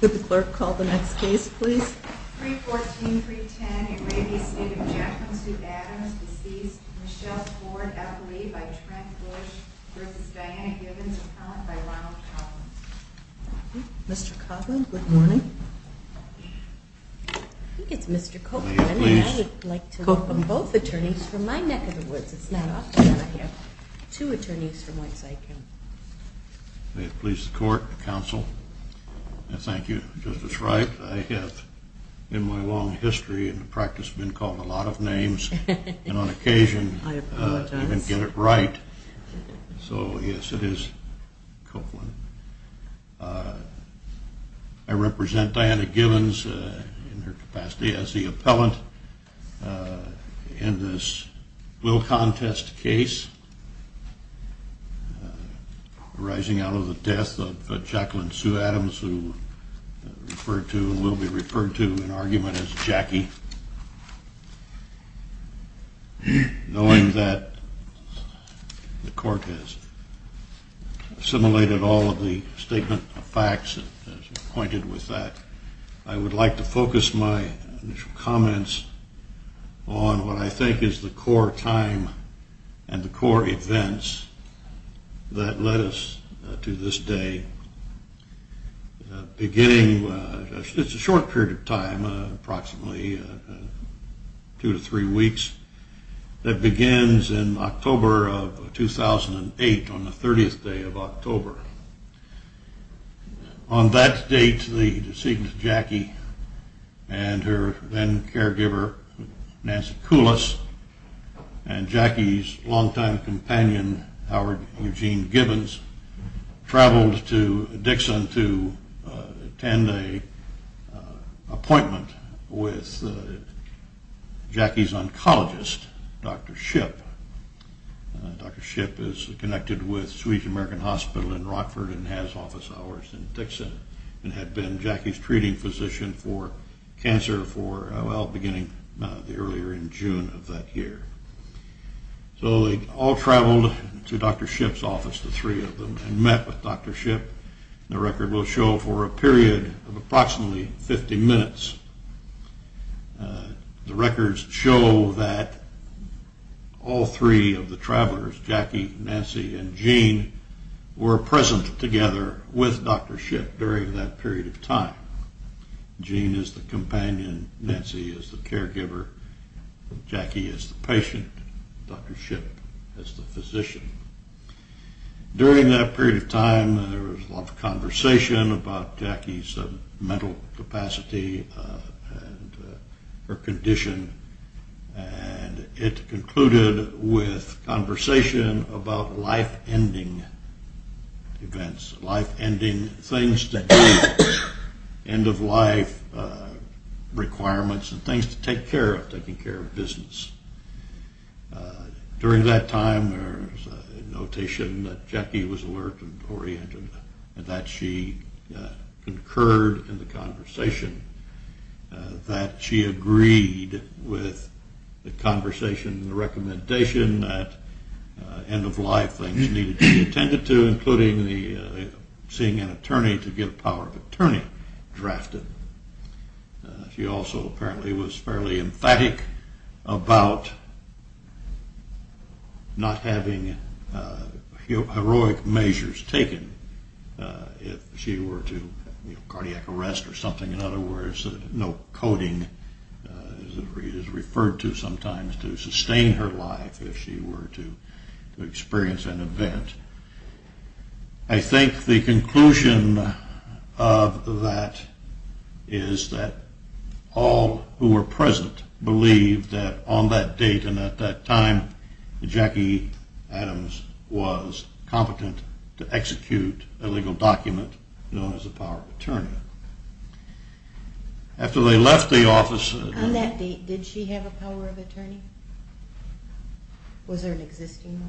Could the clerk call the next case please? 314-310, a re-estate of Jekyll and Sue Adams, deceased Michelle Ford Epley by Trent Bush vs. Diana Givens Appellant by Ronald Coughlin. Mr. Coughlin, good morning. I think it's Mr. Copeland, and I would like to call on both attorneys from my neck of the woods. It's not often that I have two attorneys from one side. May it please the court, counsel, and thank you, Justice Wright. I have, in my long history in the practice, been called a lot of names, and on occasion I didn't get it right. So, yes, it is Coughlin. I represent Diana Givens in her capacity as the appellant in this will contest case arising out of the death of Jekyll and Sue Adams, who will be referred to in argument as Jackie. Knowing that the court has assimilated all of the statement of facts, I would like to focus my initial comments on what I think is the core time and the core events that led us to this day. It's a short period of time, approximately two to three weeks, that begins in October of 2008 on the 30th day of October. On that date, the deceased Jackie and her then caregiver Nancy Koulos, and Jackie's long-time companion Howard Eugene Givens, traveled to Dixon to attend an appointment with Jackie's oncologist, Dr. Shipp. Dr. Shipp is connected with Swedish American Hospital in Rockford and has office hours in Dixon, and had been Jackie's treating physician for cancer for, well, beginning earlier in June of that year. So, they all traveled to Dr. Shipp's office, the three of them, and met with Dr. Shipp. The record will show for a period of approximately 50 minutes. The records show that all three of the travelers, Jackie, Nancy, and Gene, were present together with Dr. Shipp during that period of time. Gene is the companion, Nancy is the caregiver, Jackie is the patient, Dr. Shipp is the physician. During that period of time, there was a lot of conversation about Jackie's mental capacity and her condition, and it concluded with conversation about life-ending events, life-ending things, end-of-life requirements and things to take care of, taking care of business. During that time, there was a notation that Jackie was alert and oriented and that she concurred in the conversation, that she agreed with the conversation and the recommendation that end-of-life things needed to be attended to, including seeing an attorney to get a power of attorney drafted. She also apparently was fairly emphatic about not having heroic measures taken if she were to, you know, cardiac arrest or something. In other words, no coding is referred to sometimes to sustain her life if she were to experience an event. I think the conclusion of that is that all who were present believed that on that date and at that time, Jackie Adams was competent to execute a legal document known as a power of attorney. On that date, did she have a power of attorney? Was there an existing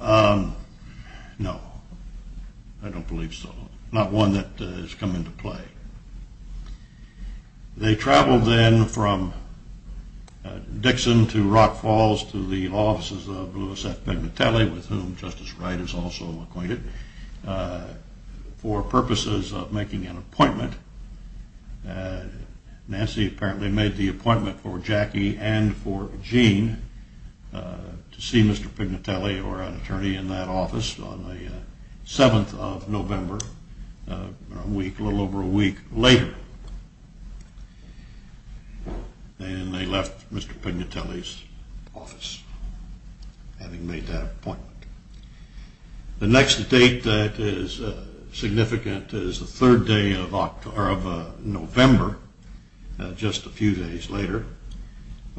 one? No, I don't believe so. Not one that has come into play. They traveled then from Dixon to Rock Falls to the offices of Louis F. Pignatelli, with whom Justice Wright is also acquainted, for purposes of making an appointment. Nancy apparently made the appointment for Jackie and for Gene to see Mr. Pignatelli or an attorney in that office on the 7th of November, a little over a week later, and they left Mr. Pignatelli's office having made that appointment. The next date that is significant is the 3rd day of November, just a few days later,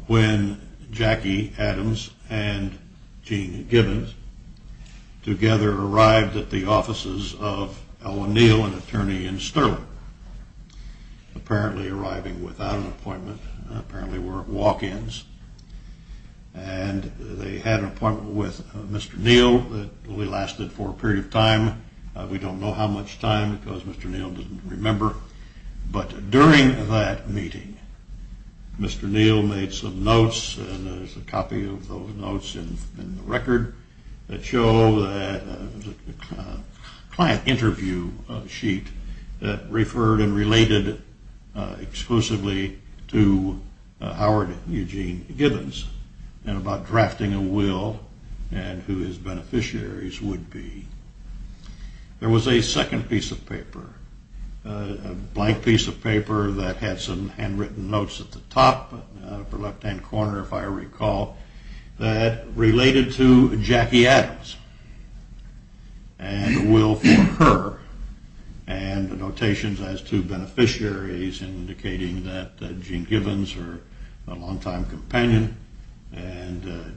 when Jackie Adams and Gene Gibbons together arrived at the offices of Ellen Neal, an attorney in Sterling, apparently arriving without an appointment. They had an appointment with Mr. Neal that only lasted for a period of time. We don't know how much time because Mr. Neal doesn't remember. But during that meeting, Mr. Neal made some notes and there's a copy of those notes in the record that show a client interview sheet that referred and related exclusively to Howard Eugene Gibbons and about drafting a will and who his beneficiaries would be. There was a second piece of paper, a blank piece of paper that had some handwritten notes at the top, upper left hand corner if I recall, that related to Jackie Adams and the will for her, and notations as to beneficiaries indicating that Gene Gibbons, her longtime companion, and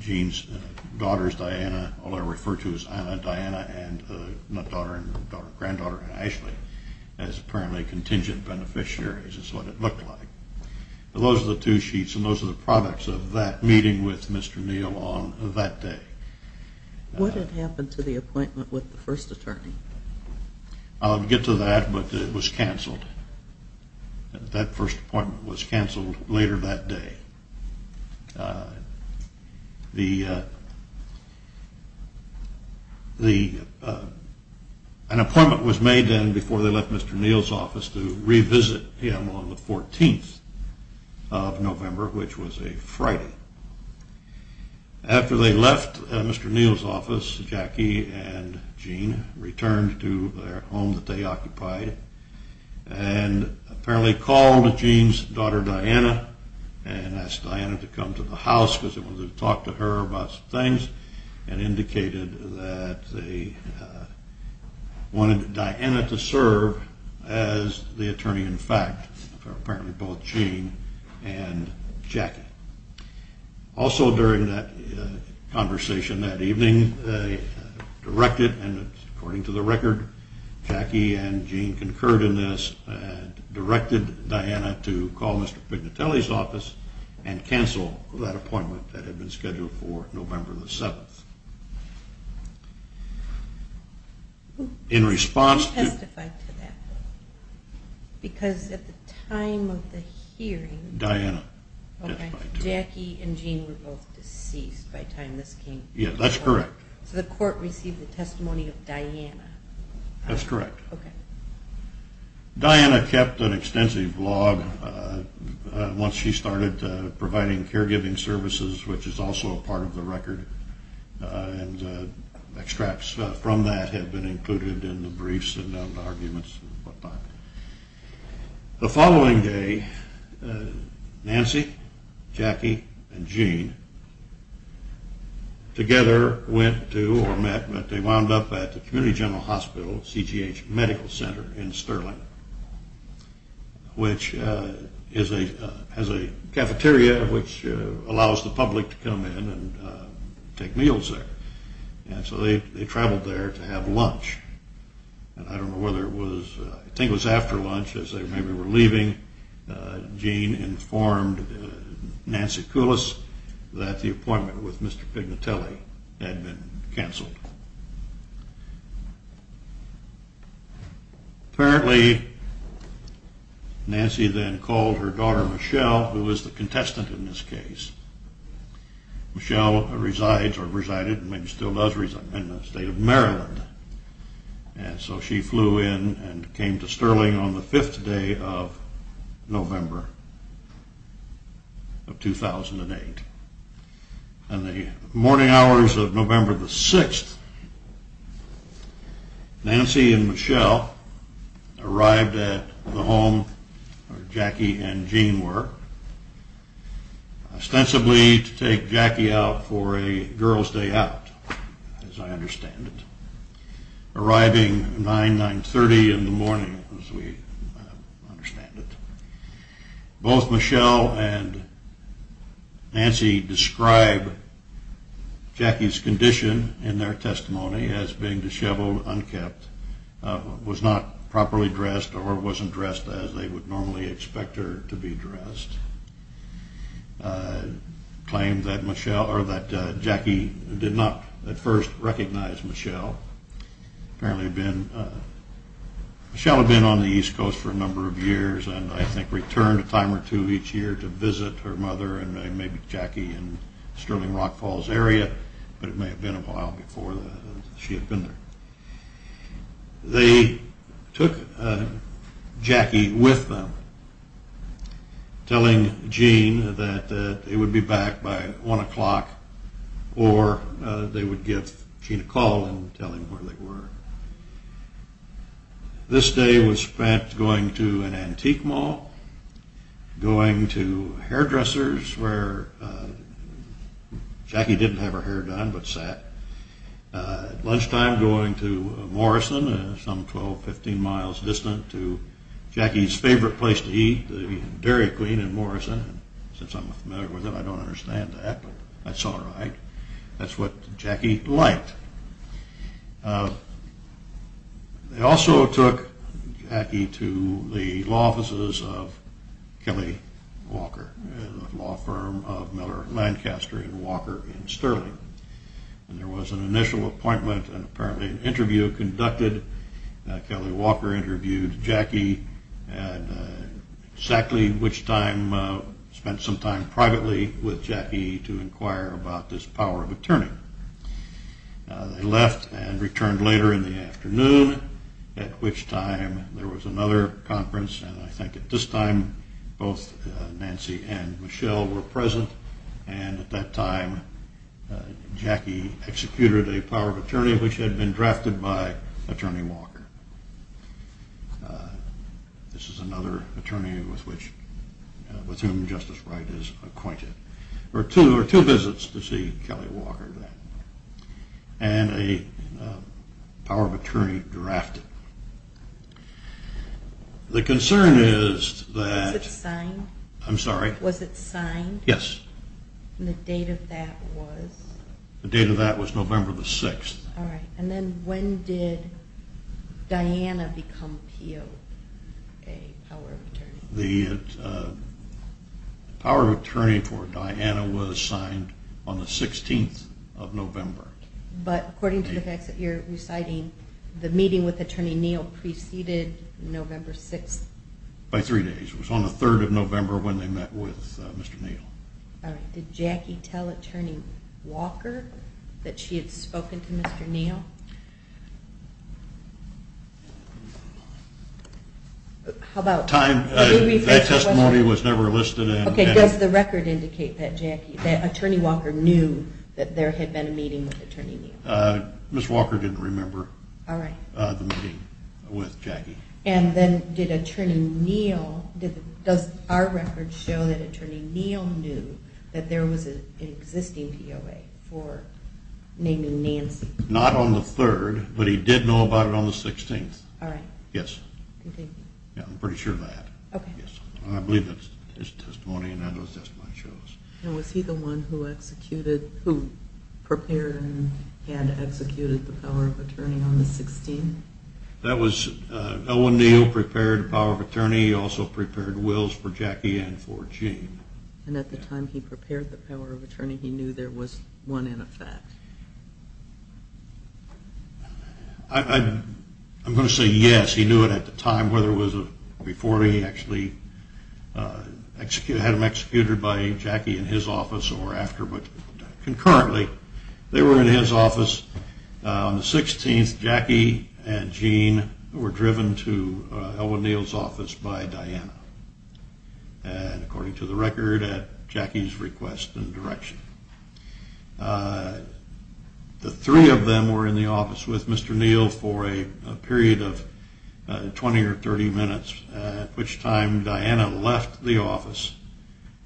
Gene's daughter Diana, all I refer to as Anna, Diana, and granddaughter Ashley, as apparently contingent beneficiaries is what it looked like. Those are the two sheets and those are the products of that meeting with Mr. Neal on that day. What had happened to the appointment with the first attorney? I'll get to that, but it was cancelled. That first appointment was cancelled later that day. An appointment was made then before they left Mr. Neal's office to revisit him on the 14th of November, which was a Friday. After they left Mr. Neal's office, Jackie and Gene returned to their home that they occupied and apparently called Gene's daughter Diana and asked Diana to come to the house because they wanted to talk to her about some things and indicated that they wanted Diana to serve as the attorney in fact for apparently both Gene and Jackie. Also during that conversation that evening, they directed, and according to the record, Jackie and Gene concurred in this, directed Diana to call Mr. Pignatelli's office and cancel that appointment that had been scheduled for November the 7th. Who testified to that? Because at the time of the hearing, Jackie and Gene were both deceased by the time this came forward. Yeah, that's correct. So the court received the testimony of Diana. That's correct. Okay. Diana kept an extensive log once she started providing caregiving services, which is also a part of the record, and extracts from that have been included in the briefs and arguments. The following day, Nancy, Jackie, and Gene together went to or met, they wound up at the Community General Hospital, CGH Medical Center in Sterling, which has a cafeteria which allows the public to come in and take meals there. And so they traveled there to have lunch, and I don't know whether it was, I think it was after lunch as they maybe were leaving, Gene informed Nancy Coulis that the appointment with Mr. Pignatelli had been canceled. Apparently, Nancy then called her daughter Michelle, who was the contestant in this case. Michelle resides or resided, maybe still does reside, in the state of Maryland, and so she flew in and came to Sterling on the fifth day of November of 2008. On the morning hours of November the 6th, Nancy and Michelle arrived at the home where Jackie and Gene were, ostensibly to take Jackie out for a girl's day out, as I understand it, arriving 9, 930 in the morning, as we understand it. Both Michelle and Nancy describe Jackie's condition in their testimony as being disheveled, unkempt, was not properly dressed, or wasn't dressed as they would normally expect her to be dressed. Apparently, Michelle had been on the East Coast for a number of years and I think returned a time or two each year to visit her mother and maybe Jackie in the Sterling Rock Falls area, but it may have been a while before she had been there. They took Jackie with them, telling Gene that they would be back by 1 o'clock or they would give Gene a call and tell him where they were. This day was spent going to an antique mall, going to hairdressers where Jackie didn't have her hair done but sat, lunchtime going to Morrison, some 12, 15 miles distant to Jackie's favorite place to eat, the Dairy Queen in Morrison, since I'm familiar with it I don't understand that, but that's all right, that's what Jackie liked. They also took Jackie to the law offices of Kelly Walker, a law firm of Miller Lancaster and Walker in Sterling. There was an initial appointment and apparently an interview conducted. Kelly Walker interviewed Jackie and Sackley, which time spent some time privately with Jackie to inquire about this power of attorney. They left and returned later in the afternoon, at which time there was another conference and I think at this time both Nancy and Michelle were present and at that time Jackie executed a power of attorney which had been drafted by Attorney General Sackley. This is another attorney with whom Justice Wright is acquainted. There were two visits to see Kelly Walker and a power of attorney drafted. The concern is that... Was it signed? I'm sorry? Was it signed? Yes. And the date of that was? The date of that was November the 6th. All right, and then when did Diana become POA, power of attorney? The power of attorney for Diana was signed on the 16th of November. But according to the facts that you're reciting, the meeting with Attorney Neal preceded November 6th? By three days. It was on the 3rd of November when they met with Mr. Neal. All right, did Jackie tell Attorney Walker that she had spoken to Mr. Neal? How about time? That testimony was never listed. Okay, does the record indicate that Jackie, that Attorney Walker knew that there had been a meeting with Attorney Neal? Mr. Walker didn't remember the meeting with Jackie. And then did Attorney Neal, does our record show that Attorney Neal knew that there was an existing POA for naming Nancy? Not on the 3rd, but he did know about it on the 16th. All right. Yes. I'm pretty sure of that. Okay. I believe that testimony and I know that testimony shows. And was he the one who executed, who prepared and had executed the power of attorney on the 16th? That was Owen Neal prepared the power of attorney. He also prepared wills for Jackie and for Gene. And at the time he prepared the power of attorney, he knew there was one in effect. I'm going to say yes, he knew it at the time, whether it was before he actually had him executed by Jackie in his office or after, but concurrently they were in his office. On the 16th, Jackie and Gene were driven to Owen Neal's office by Diana. And according to the record at Jackie's request and direction. The three of them were in the office with Mr. Neal for a period of 20 or 30 minutes, at which time Diana left the office,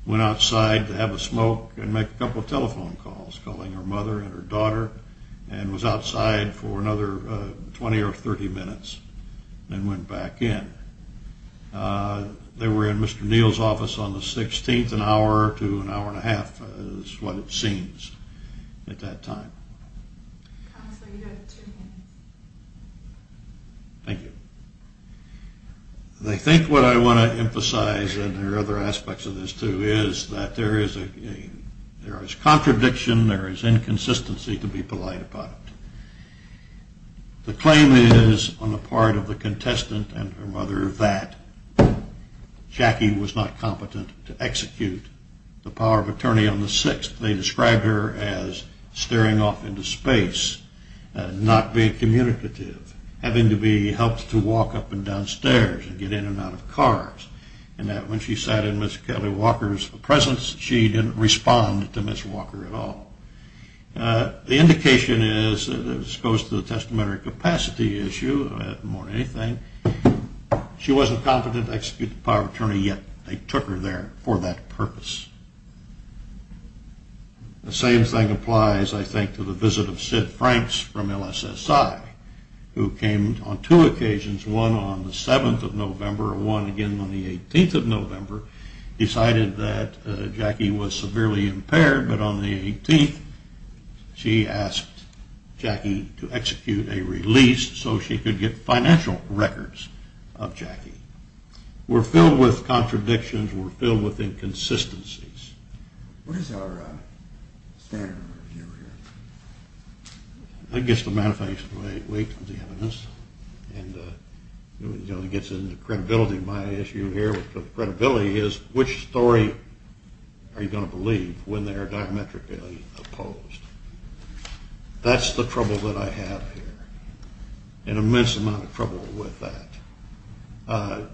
went outside to have a smoke and make a couple telephone calls, calling her mother and her daughter and was outside for another 20 or 30 minutes and went back in. They were in Mr. Neal's office on the 16th, an hour to an hour and a half is what it seems at that time. Thank you. I think what I want to emphasize and there are other aspects of this too is that there is contradiction, there is inconsistency to be polite about. The claim is on the part of the contestant and her mother that Jackie was not competent to execute the power of attorney on the 6th. They described her as staring off into space, not being communicative, having to be helped to walk up and down stairs and get in and out of cars, and that when she sat in Ms. Kelly Walker's presence, she didn't respond to Ms. Walker at all. The indication is that this goes to the testamentary capacity issue more than anything. She wasn't competent to execute the power of attorney yet. They took her there for that purpose. The same thing applies, I think, to the visit of Sid Franks from LSSI, who came on two occasions, one on the 7th of November and one again on the 18th of November, decided that Jackie was severely impaired, but on the 18th she asked Jackie to execute a release so she could get financial records of Jackie. We're filled with contradictions, we're filled with inconsistencies. What is our standard review here? I guess the manifestation of the evidence, and it gets into the credibility of my issue here. Credibility is which story are you going to believe when they are diametrically opposed. That's the trouble that I have here, an immense amount of trouble with that. How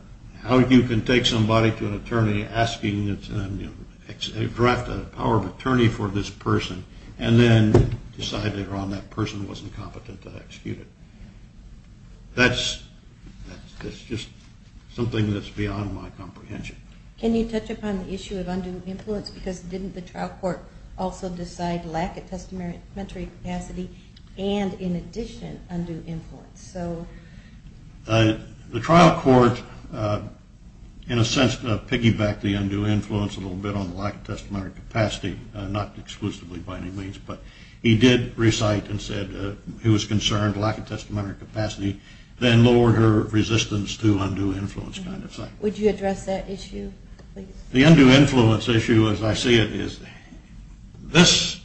you can take somebody to an attorney asking them to draft a power of attorney for this person and then decide later on that person wasn't competent to execute it. That's just something that's beyond my comprehension. Can you touch upon the issue of undue influence, because didn't the trial court also decide lack of testamentary capacity and, in addition, undue influence? The trial court, in a sense, piggybacked the undue influence a little bit on the lack of testamentary capacity, not exclusively by any means, but he did recite and said he was concerned lack of testamentary capacity then lowered her resistance to undue influence kind of thing. Would you address that issue, please? The undue influence issue, as I see it, is this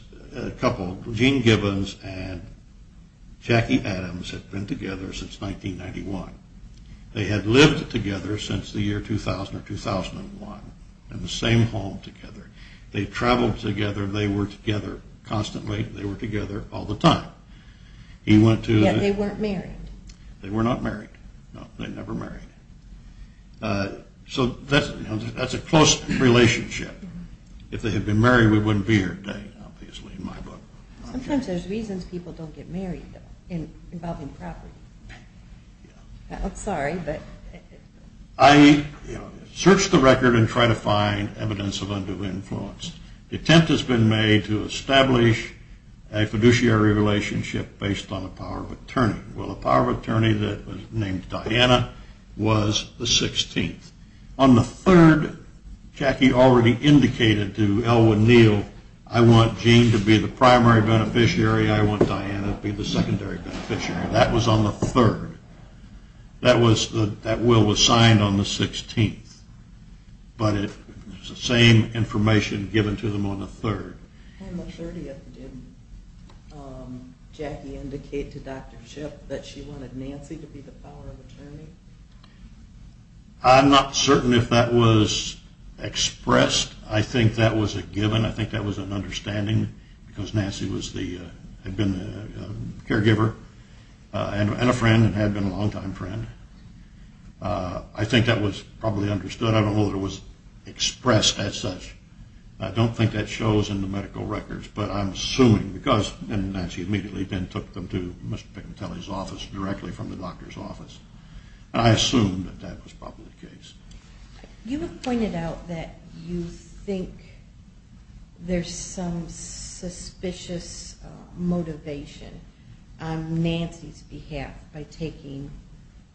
couple, Gene Gibbons and Jackie Adams, have been together since 1991. They had lived together since the year 2000 or 2001 in the same home together. They traveled together, they were together constantly, they were together all the time. Yet they weren't married. They were not married. No, they never married. So that's a close relationship. If they had been married, we wouldn't be here today, obviously, in my book. Sometimes there's reasons people don't get married involving property. I'm sorry, but... I search the record and try to find evidence of undue influence. The attempt has been made to establish a fiduciary relationship based on the power of attorney. Well, the power of attorney that was named Diana was the 16th. On the third, Jackie already indicated to Elwynn Neal, I want Gene to be the primary beneficiary, I want Diana to be the secondary beneficiary. That was on the third. That will was signed on the 16th. But it's the same information given to them on the third. On the 30th, did Jackie indicate to Dr. Shipp that she wanted Nancy to be the power of attorney? I'm not certain if that was expressed. I think that was a given. I think that was an understanding because Nancy had been the caregiver and a friend and had been a longtime friend. I think that was probably understood. I don't know if it was expressed as such. I don't think that shows in the medical records, but I'm assuming because Nancy immediately then took them to Mr. Picantelli's office directly from the doctor's office. I assume that that was probably the case. You have pointed out that you think there's some suspicious motivation on Nancy's behalf by taking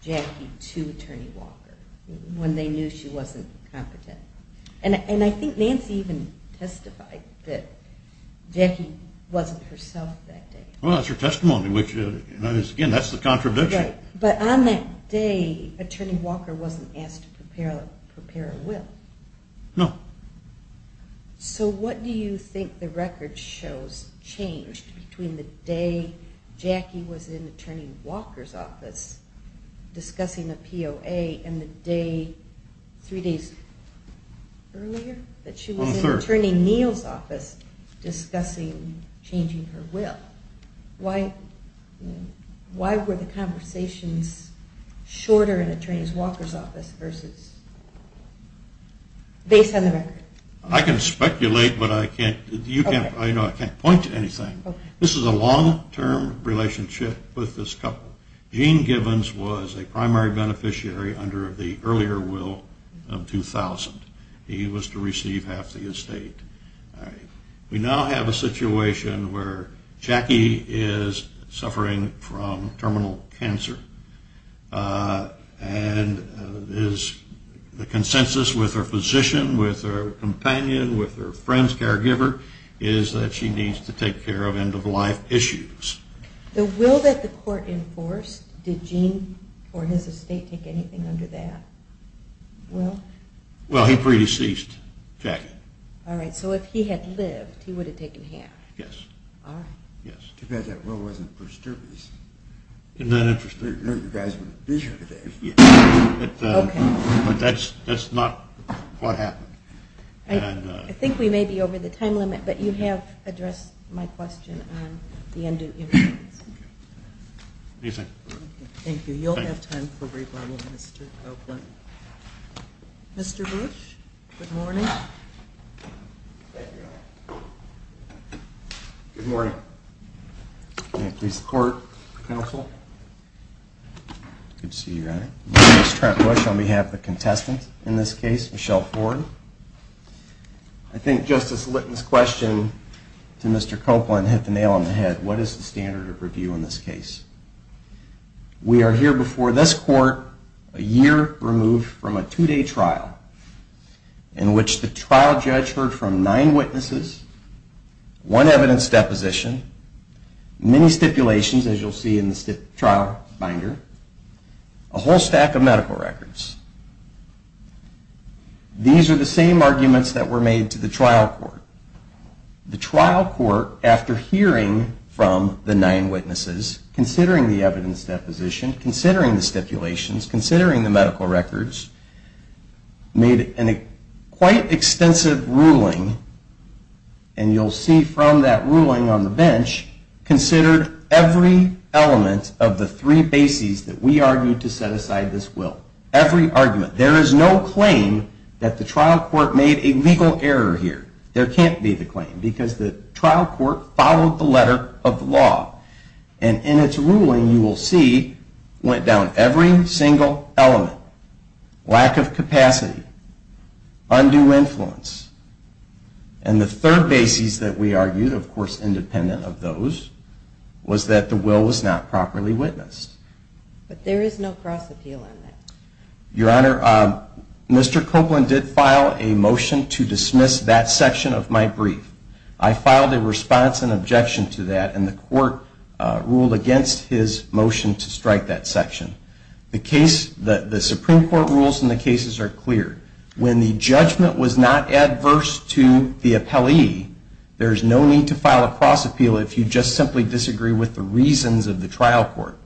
Jackie to Attorney Walker when they knew she wasn't competent. And I think Nancy even testified that Jackie wasn't herself that day. Well, that's her testimony. Again, that's the contradiction. But on that day, Attorney Walker wasn't asked to prepare a will. No. So what do you think the record shows changed between the day Jackie was in Attorney Walker's office discussing a POA and the day three days earlier that she was in Attorney Neal's office discussing changing her will? Why were the conversations shorter in Attorney Walker's office versus based on the record? I can speculate, but I can't point to anything. This is a long-term relationship with this couple. Gene Givens was a primary beneficiary under the earlier will of 2000. He was to receive half the estate. We now have a situation where Jackie is suffering from terminal cancer and the consensus with her physician, with her companion, with her friend's caregiver is that she needs to take care of end-of-life issues. The will that the court enforced, did Gene or his estate take anything under that will? Well, he predeceased Jackie. All right. So if he had lived, he would have taken half. Yes. All right. Yes. Too bad that will wasn't for service. Isn't that interesting? I didn't know you guys were a visionary then. Okay. But that's not what happened. I think we may be over the time limit, but you have addressed my question on the end-of-life. Okay. Anything? Thank you. You'll have time for rebuttal, Mr. Oakland. Mr. Bush, good morning. Thank you. Good morning. May it please the court, counsel. Good to see you, Your Honor. My name is Trent Bush on behalf of the contestant in this case, Michelle Ford. I think Justice Litton's question to Mr. Copeland hit the nail on the head. What is the standard of review in this case? We are here before this court a year removed from a two-day trial in which the trial judge heard from nine witnesses, one evidence deposition, many stipulations, as you'll see in the trial binder, a whole stack of medical records. These are the same arguments that were made to the trial court. The trial court, after hearing from the nine witnesses, considering the evidence deposition, considering the stipulations, considering the medical records, made a quite extensive ruling, and you'll see from that ruling on the bench, considered every element of the three bases that we argued to set aside this will, every argument. There is no claim that the trial court made a legal error here. There can't be the claim because the trial court followed the letter of the law, and in its ruling you will see went down every single element, lack of capacity, undue influence, and the third basis that we argued, of course independent of those, was that the will was not properly witnessed. But there is no cross-appeal in that. Your Honor, Mr. Copeland did file a motion to dismiss that section of my brief. I filed a response and objection to that, and the court ruled against his motion to strike that section. The case, the Supreme Court rules in the cases are clear. When the judgment was not adverse to the appellee, there is no need to file a cross-appeal if you just simply disagree with the reasons of the trial court.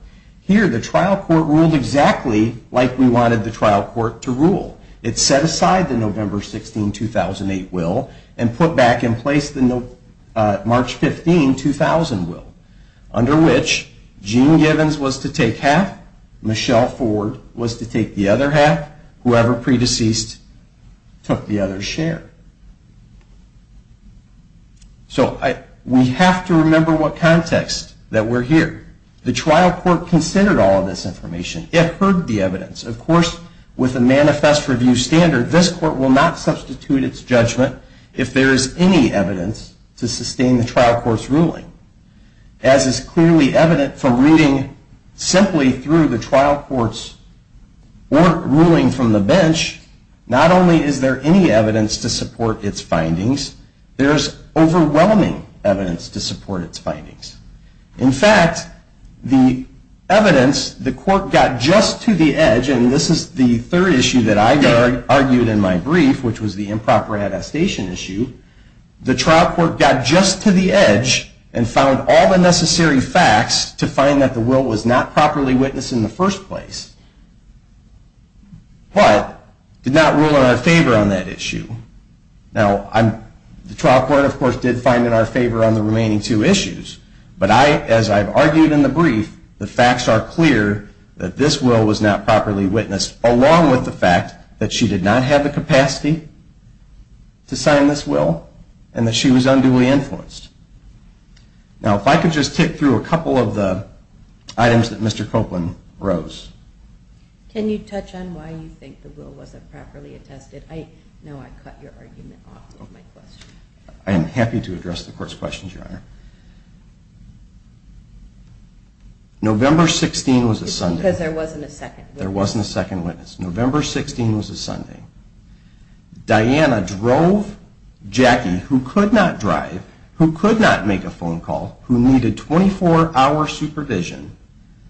Here, the trial court ruled exactly like we wanted the trial court to rule. It set aside the November 16, 2008 will and put back in place the March 15, 2000 will, under which Gene Givens was to take half, Michelle Ford was to take the other half, whoever pre-deceased took the other's share. So we have to remember what context that we're here. The trial court considered all of this information. It heard the evidence. Of course, with a manifest review standard, this court will not substitute its judgment if there is any evidence to sustain the trial court's ruling. As is clearly evident from reading simply through the trial court's ruling from the bench, not only is there any evidence to support its findings, there is overwhelming evidence to support its findings. In fact, the evidence, the court got just to the edge, and this is the third issue that I argued in my brief, which was the improper attestation issue. The trial court got just to the edge and found all the necessary facts to find that the will was not properly witnessed in the first place, but did not rule in our favor on that issue. Now, the trial court, of course, did find in our favor on the remaining two issues, but as I've argued in the brief, the facts are clear that this will was not properly witnessed, along with the fact that she did not have the capacity to sign this will and that she was unduly influenced. Now, if I could just tick through a couple of the items that Mr. Copeland rose. Can you touch on why you think the will wasn't properly attested? Now I cut your argument off of my question. I am happy to address the court's questions, Your Honor. November 16 was a Sunday. Because there wasn't a second witness. There wasn't a second witness. November 16 was a Sunday. Diana drove Jackie, who could not drive, who could not make a phone call, who needed 24-hour supervision,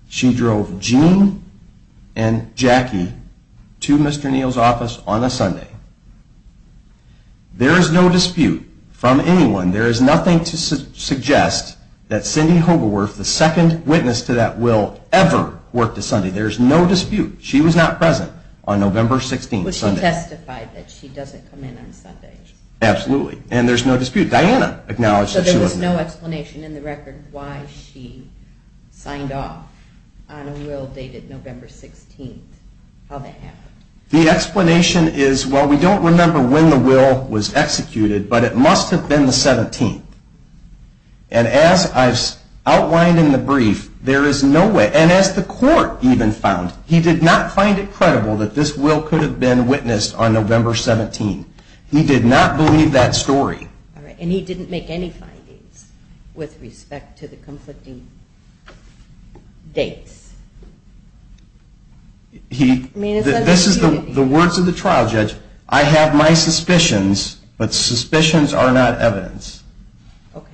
she drove Gene and Jackie to Mr. Neal's office on a Sunday. There is no dispute from anyone. There is nothing to suggest that Cindy Hogewerth, the second witness to that will, ever worked a Sunday. There is no dispute. She was not present on November 16th, Sunday. But she testified that she doesn't come in on Sundays. Absolutely. And there's no dispute. Diana acknowledged that she was. So there was no explanation in the record why she signed off on a will dated November 16th, how that happened. The explanation is, well, we don't remember when the will was executed, but it must have been the 17th. And as I've outlined in the brief, there is no way, and as the court even found, he did not find it credible that this will could have been witnessed on November 17th. He did not believe that story. And he didn't make any findings with respect to the conflicting dates. This is the words of the trial judge. I have my suspicions, but suspicions are not evidence. Okay.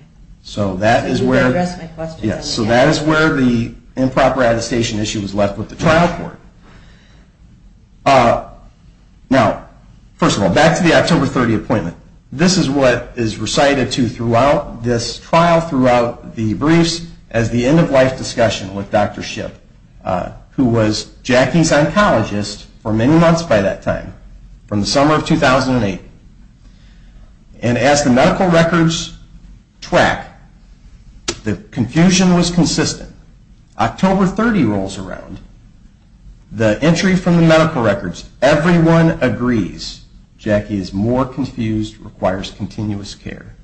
So that is where the improper attestation issue was left with the trial court. Now, first of all, back to the October 30 appointment. This is what is recited throughout this trial, throughout the briefs, as the end-of-life discussion with Dr. Shipp, who was Jackie's oncologist for many months by that time, from the summer of 2008. And as the medical records track, the confusion was consistent. October 30 rolls around. The entry from the medical records, everyone agrees Jackie is more confused, requires continuous care.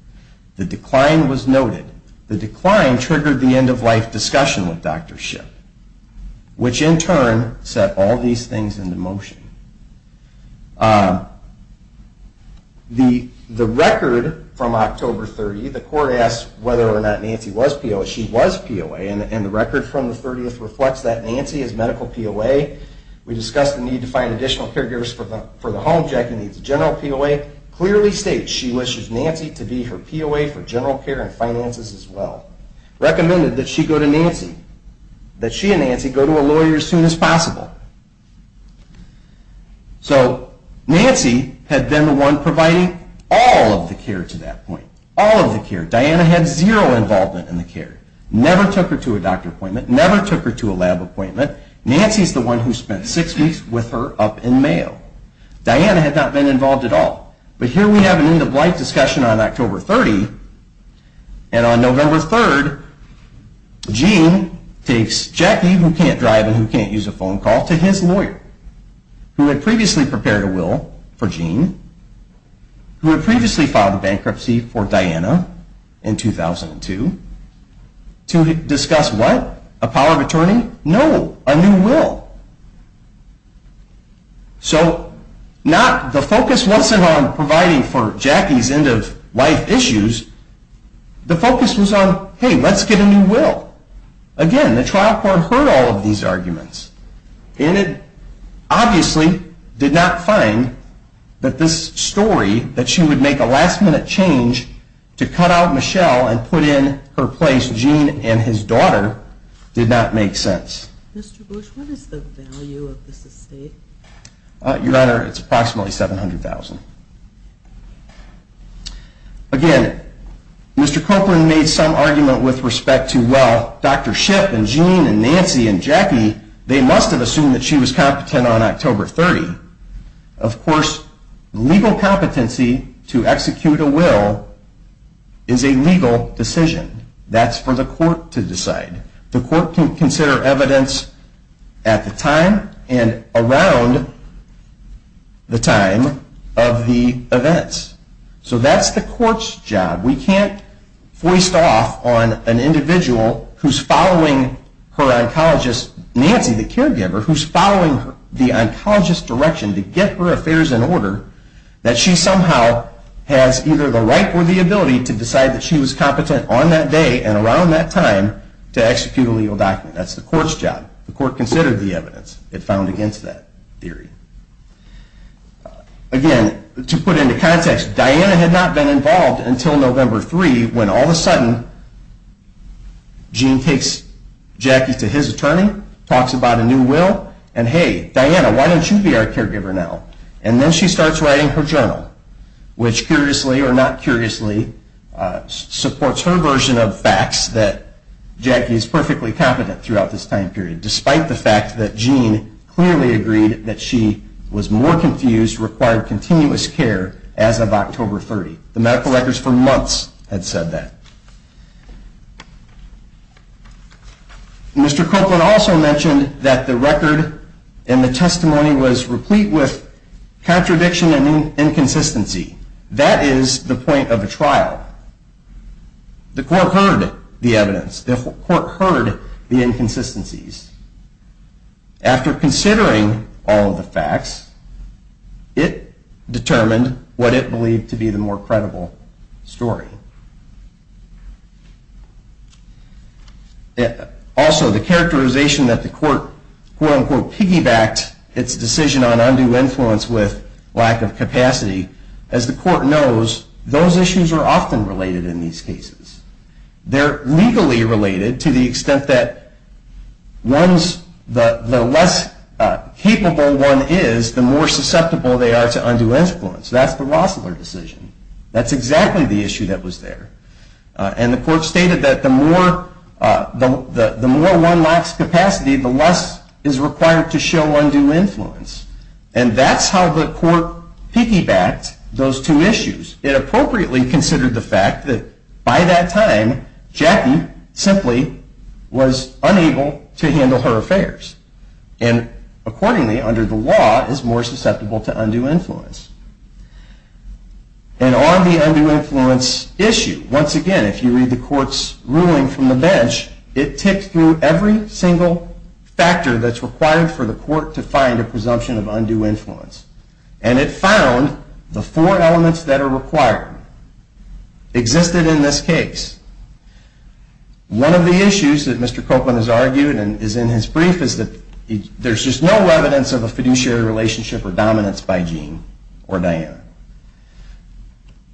The decline was noted. The decline triggered the end-of-life discussion with Dr. Shipp, which in turn set all these things into motion. The record from October 30, the court asked whether or not Nancy was POA. She was POA, and the record from the 30th reflects that Nancy is medical POA. We discussed the need to find additional caregivers for the home. Jackie needs a general POA. The POA clearly states she wishes Nancy to be her POA for general care and finances as well. Recommended that she go to Nancy, that she and Nancy go to a lawyer as soon as possible. So Nancy had been the one providing all of the care to that point, all of the care. Diana had zero involvement in the care, never took her to a doctor appointment, never took her to a lab appointment. Nancy is the one who spent six weeks with her up in Mayo. Diana had not been involved at all. But here we have an end-of-life discussion on October 30, and on November 3, Gene takes Jackie, who can't drive and who can't use a phone call, to his lawyer, who had previously prepared a will for Gene, who had previously filed bankruptcy for Diana in 2002, to discuss what? So the focus wasn't on providing for Jackie's end-of-life issues. The focus was on, hey, let's get a new will. Again, the trial court heard all of these arguments, and it obviously did not find that this story, that she would make a last-minute change to cut out Michelle and put in her place Gene and his daughter, did not make sense. Mr. Bush, what is the value of this estate? Your Honor, it's approximately $700,000. Again, Mr. Copeland made some argument with respect to, well, Dr. Shipp and Gene and Nancy and Jackie, they must have assumed that she was competent on October 30. Of course, legal competency to execute a will is a legal decision. That's for the court to decide. The court can consider evidence at the time and around the time of the events. So that's the court's job. We can't foist off on an individual who's following her oncologist, Nancy, the caregiver, who's following the oncologist's direction to get her affairs in order, that she somehow has either the right or the ability to decide that she was competent on that day and around that time to execute a legal document. That's the court's job. The court considered the evidence it found against that theory. Again, to put into context, Diana had not been involved until November 3, when all of a sudden Gene takes Jackie to his attorney, talks about a new will, and, hey, Diana, why don't you be our caregiver now? And then she starts writing her journal, which curiously or not curiously supports her version of facts that Jackie is perfectly competent throughout this time period, despite the fact that Gene clearly agreed that she was more confused, required continuous care as of October 30. The medical records for months had said that. Mr. Copeland also mentioned that the record and the testimony was replete with contradiction and inconsistency. That is the point of a trial. The court heard the evidence. The court heard the inconsistencies. After considering all of the facts, it determined what it believed to be the more credible story. Also, the characterization that the court quote-unquote piggybacked its decision on undue influence with lack of capacity, as the court knows, those issues are often related in these cases. They're legally related to the extent that the less capable one is, the more susceptible they are to undue influence. That's the Rossler decision. That's exactly the issue that was there. And the court stated that the more one lacks capacity, the less is required to show undue influence. And that's how the court piggybacked those two issues. It appropriately considered the fact that by that time, Jackie simply was unable to handle her affairs. And accordingly, under the law, is more susceptible to undue influence. And on the undue influence issue, once again, if you read the court's ruling from the bench, it ticks through every single factor that's required for the court to find a presumption of undue influence. And it found the four elements that are required existed in this case. One of the issues that Mr. Copeland has argued and is in his brief is that there's just no evidence of a fiduciary relationship or dominance by Gene or Diana.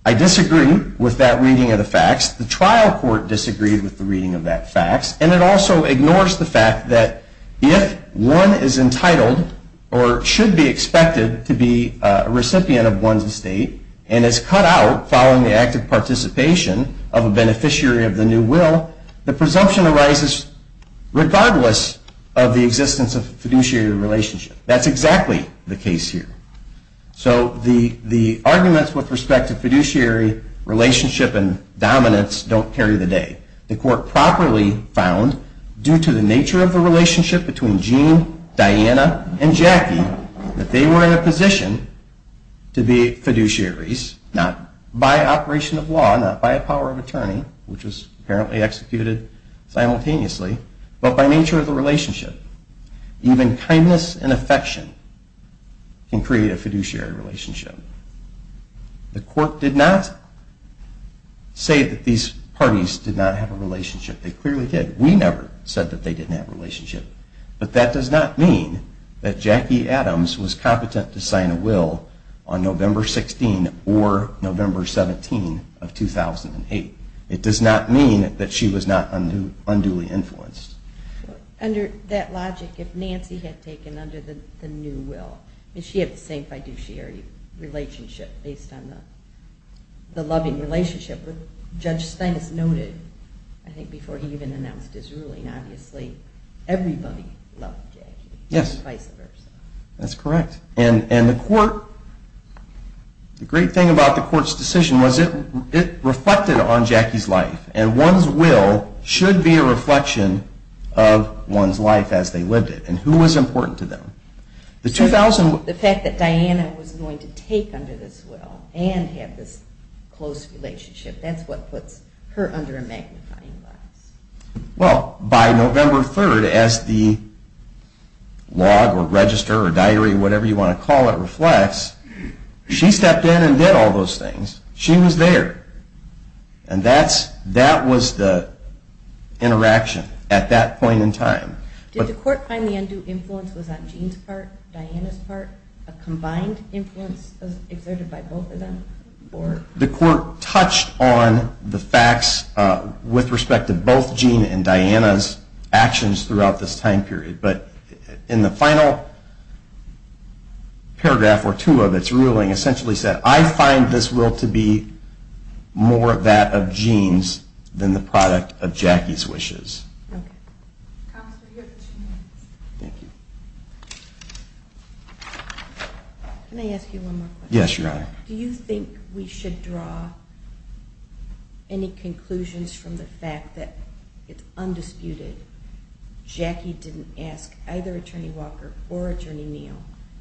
I disagree with that reading of the facts. The trial court disagreed with the reading of that fact. And it also ignores the fact that if one is entitled or should be expected to be a recipient of one's estate and is cut out following the act of participation of a beneficiary of the new will, the presumption arises regardless of the existence of a fiduciary relationship. That's exactly the case here. So the arguments with respect to fiduciary relationship and dominance don't carry the day. The court properly found, due to the nature of the relationship between Gene, Diana, and Jackie, that they were in a position to be fiduciaries, not by operation of law, not by a power of attorney, which was apparently executed simultaneously, but by nature of the relationship. Even kindness and affection can create a fiduciary relationship. The court did not say that these parties did not have a relationship. They clearly did. We never said that they didn't have a relationship. But that does not mean that Jackie Adams was competent to sign a will on November 16 or November 17 of 2008. It does not mean that she was not unduly influenced. Under that logic, if Nancy had taken under the new will, she had the same fiduciary relationship based on the loving relationship that Judge Stein has noted, I think, before he even announced his ruling. Obviously, everybody loved Jackie, and vice versa. That's correct. And the great thing about the court's decision was it reflected on Jackie's life, and one's will should be a reflection of one's life as they lived it and who was important to them. The fact that Diana was going to take under this will and have this close relationship, that's what puts her under a magnifying glass. Well, by November 3, as the log or register or diary or whatever you want to call it reflects, she stepped in and did all those things. She was there. And that was the interaction at that point in time. Did the court find the undue influence was on Gene's part, Diana's part, a combined influence exerted by both of them? The court touched on the facts with respect to both Gene and Diana's actions throughout this time period. But in the final paragraph or two of its ruling essentially said, I find this will to be more that of Gene's than the product of Jackie's wishes. Okay. Counselor, you have two minutes. Thank you. Can I ask you one more question? Yes, Your Honor. Do you think we should draw any conclusions from the fact that it's undisputed Jackie didn't ask either Attorney Walker or Attorney Neal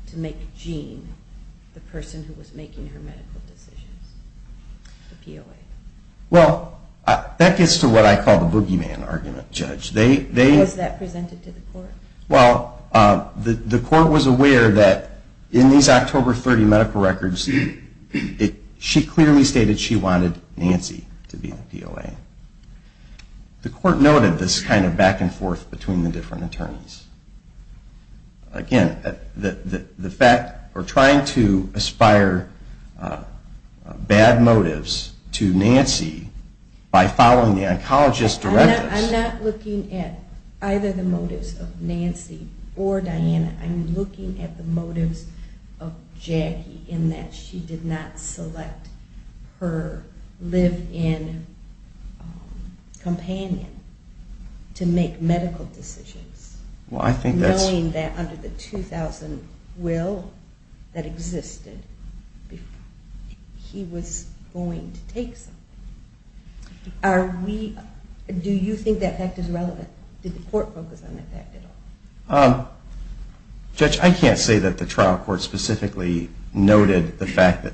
to make Gene the person who was making her medical decisions, the POA? Well, that gets to what I call the boogeyman argument, Judge. Was that presented to the court? Well, the court was aware that in these October 30 medical records, she clearly stated she wanted Nancy to be the POA. The court noted this kind of back and forth between the different attorneys. Again, the fact or trying to aspire bad motives to Nancy by following the oncologist's directives. I'm not looking at either the motives of Nancy or Diana. I'm looking at the motives of Jackie in that she did not select her live-in companion to make medical decisions. Knowing that under the 2,000 will that existed, he was going to take something. Do you think that fact is relevant? Did the court focus on that fact at all? Judge, I can't say that the trial court specifically noted the fact that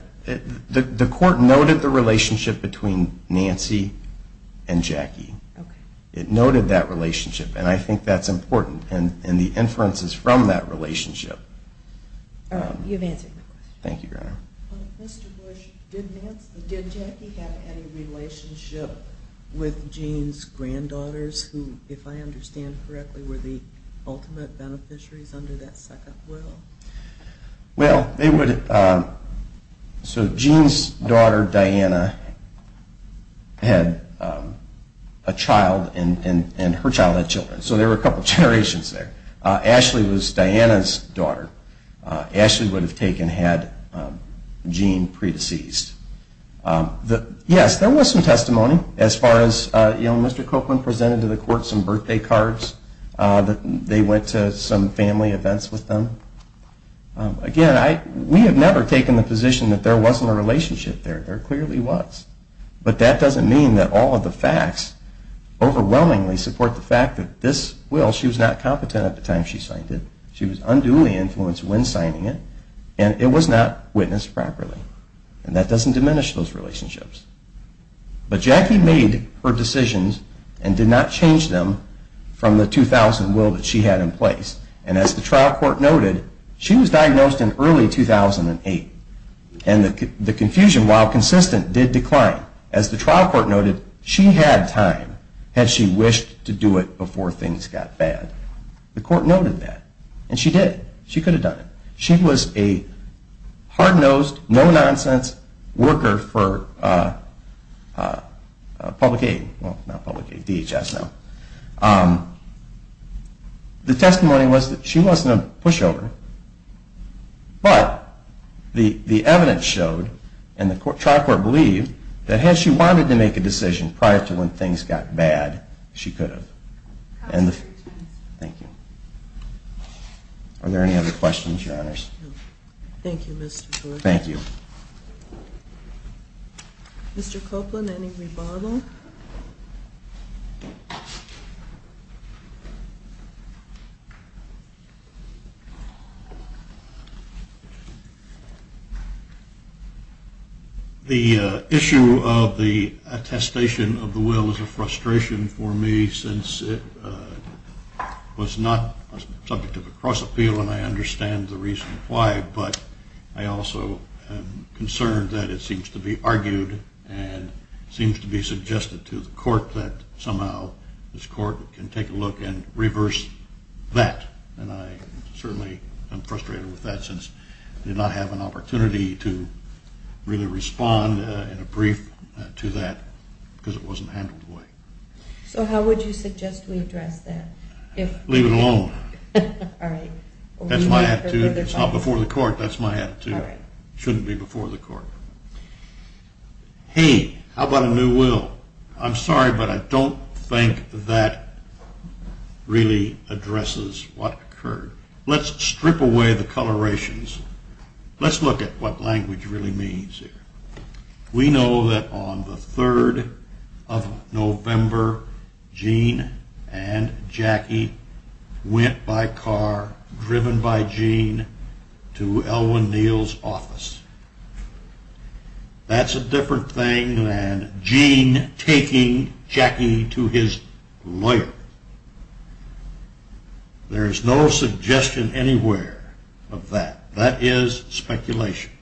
the court noted the relationship between Nancy and Jackie. It noted that relationship, and I think that's important, and the inferences from that relationship. You've answered my question. Thank you, Your Honor. Mr. Bush, did Jackie have any relationship with Gene's granddaughters who, if I understand correctly, were the ultimate beneficiaries under that second will? Well, they would have. So Gene's daughter, Diana, had a child, and her child had children. So there were a couple of generations there. Ashley was Diana's daughter. Ashley would have taken had Gene pre-deceased. Yes, there was some testimony as far as Mr. Copeland presented to the court some birthday cards. They went to some family events with them. Again, we have never taken the position that there wasn't a relationship there. There clearly was. But that doesn't mean that all of the facts overwhelmingly support the fact that this will, she was not competent at the time she signed it. She was unduly influenced when signing it, and it was not witnessed properly. And that doesn't diminish those relationships. But Jackie made her decisions and did not change them from the 2000 will that she had in place. And as the trial court noted, she was diagnosed in early 2008, and the confusion, while consistent, did decline. As the trial court noted, she had time had she wished to do it before things got bad. The court noted that. And she did. She could have done it. She was a hard-nosed, no-nonsense worker for public aid. Well, not public aid, DHS now. The testimony was that she wasn't a pushover. But the evidence showed, and the trial court believed, that had she wanted to make a decision prior to when things got bad, she could have. Thank you. Are there any other questions, Your Honors? No. Thank you, Mr. George. Thank you. Mr. Copeland, any rebuttal? No. The issue of the attestation of the will is a frustration for me, since it was not subject of a cross-appeal, and I understand the reason why. But I also am concerned that it seems to be argued and seems to be suggested to the court that somehow this court can take a look and reverse that. And I certainly am frustrated with that, since I did not have an opportunity to really respond in a brief to that, because it wasn't handled the way. So how would you suggest we address that? Leave it alone. All right. That's my attitude. It's not before the court. That's my attitude. It shouldn't be before the court. Hey, how about a new will? I'm sorry, but I don't think that really addresses what occurred. Let's strip away the colorations. Let's look at what language really means here. We know that on the 3rd of November, Gene and Jackie went by car, driven by Gene, to Elwynn Neal's office. That's a different thing than Gene taking Jackie to his lawyer. There's no suggestion anywhere of that. That is speculation.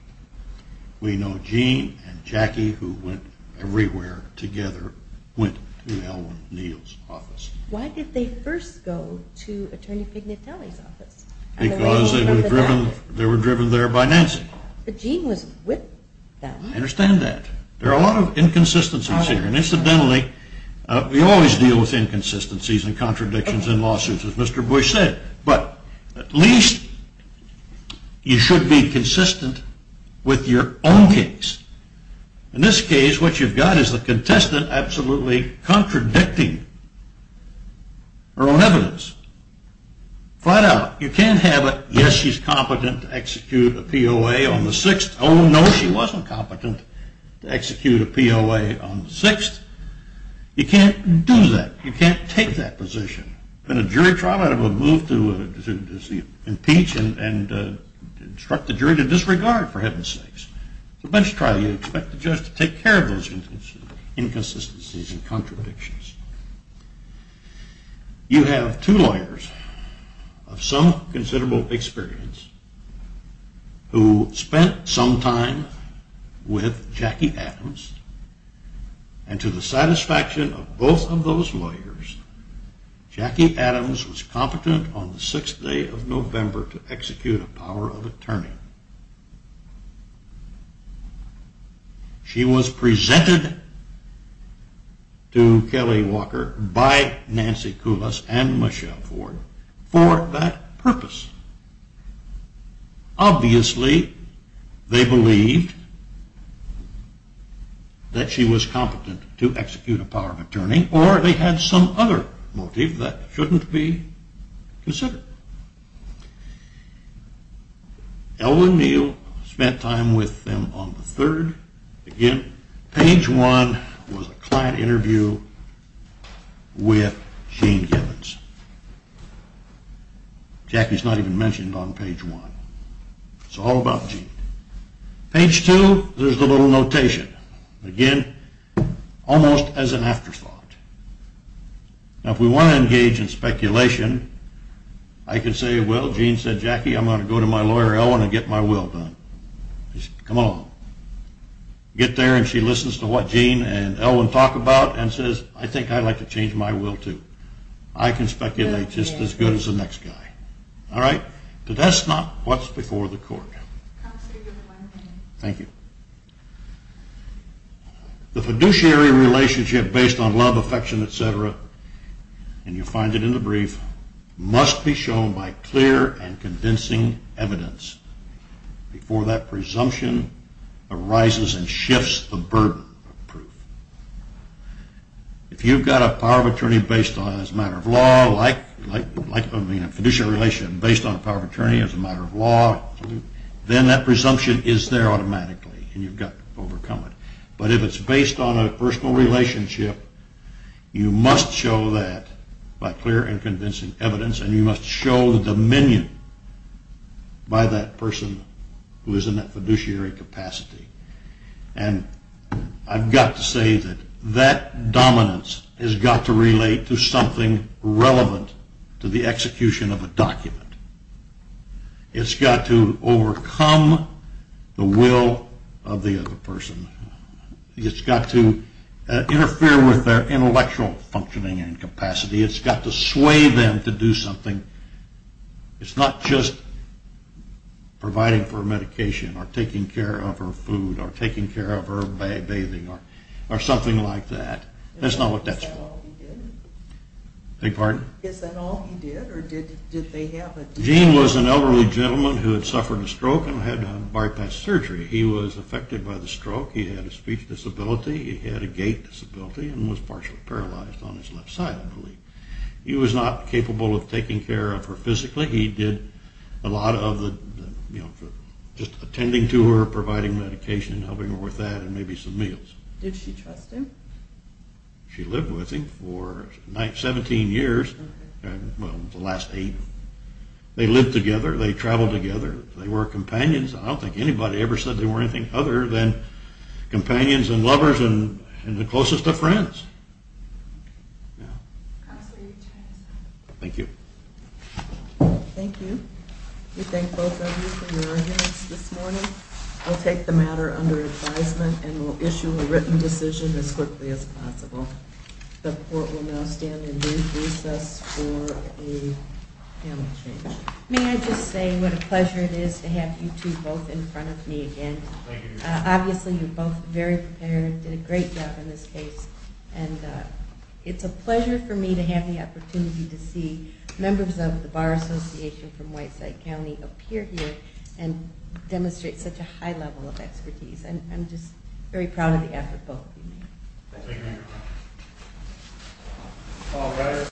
We know Gene and Jackie, who went everywhere together, went to Elwynn Neal's office. Why did they first go to Attorney Pignatelli's office? Because they were driven there by Nancy. But Gene was with them. I understand that. There are a lot of inconsistencies here. And incidentally, we always deal with inconsistencies and contradictions in lawsuits, as Mr. Bush said. But at least you should be consistent with your own case. In this case, what you've got is the contestant absolutely contradicting her own evidence. Flat out. You can't have a, yes, she's competent to execute a POA on the 6th. Oh, no, she wasn't competent to execute a POA on the 6th. You can't do that. You can't take that position. In a jury trial, I would move to impeach and instruct the jury to disregard for heaven's sakes. It's a bench trial. You expect the judge to take care of those inconsistencies and contradictions. You have two lawyers of some considerable experience who spent some time with Jackie Adams. And to the satisfaction of both of those lawyers, Jackie Adams was competent on the 6th day of November to execute a POA. She was presented to Kelly Walker by Nancy Kulas and Michelle Ford for that purpose. Obviously, they believed that she was competent to execute a POA, or they had some other motive that shouldn't be considered. Elwynn Neal spent time with them on the 3rd. Again, page one was a client interview with Shane Gibbons. Jackie's not even mentioned on page one. It's all about Jean. Page two, there's a little notation. Again, almost as an afterthought. Now, if we want to engage in speculation, I can say, well, Jean said, Jackie, I'm going to go to my lawyer Elwynn and get my will done. Come along. Get there, and she listens to what Jean and Elwynn talk about and says, I think I'd like to change my will, too. I can speculate just as good as the next guy. But that's not what's before the court. Thank you. The fiduciary relationship based on love, affection, etc., and you'll find it in the brief, must be shown by clear and convincing evidence before that presumption arises and shifts the burden of proof. If you've got a fiduciary relation based on power of attorney as a matter of law, then that presumption is there automatically, and you've got to overcome it. But if it's based on a personal relationship, you must show that by clear and convincing evidence, and you must show the dominion by that person who is in that fiduciary capacity. And I've got to say that that dominance has got to relate to something relevant to the execution of a document. It's got to overcome the will of the other person. It's got to interfere with their intellectual functioning and capacity. It's got to sway them to do something. It's not just providing for medication or taking care of her food or taking care of her bathing or something like that. That's not what that's for. Is that all he did? Gene was an elderly gentleman who had suffered a stroke and had had bypass surgery. He was affected by the stroke. He had a speech disability. He had a gait disability and was partially paralyzed on his left side, I believe. He was not capable of taking care of her physically. He did a lot of the, you know, just attending to her, providing medication, helping her with that, and maybe some meals. Did she trust him? She lived with him for 17 years, well, the last eight. They lived together. They traveled together. They were companions. I don't think anybody ever said they were anything other than companions and lovers and the closest of friends. Thank you very much. Thank you. Thank you. We thank both of you for your attendance this morning. We'll take the matter under advisement and we'll issue a written decision as quickly as possible. The court will now stand and do recess for a panel change. May I just say what a pleasure it is to have you two both in front of me again. Obviously you're both very prepared, did a great job in this case, and it's a pleasure for me to have the opportunity to see members of the Bar Association from Whiteside County appear here and demonstrate such a high level of expertise. I'm just very proud of the effort both of you made. Thank you.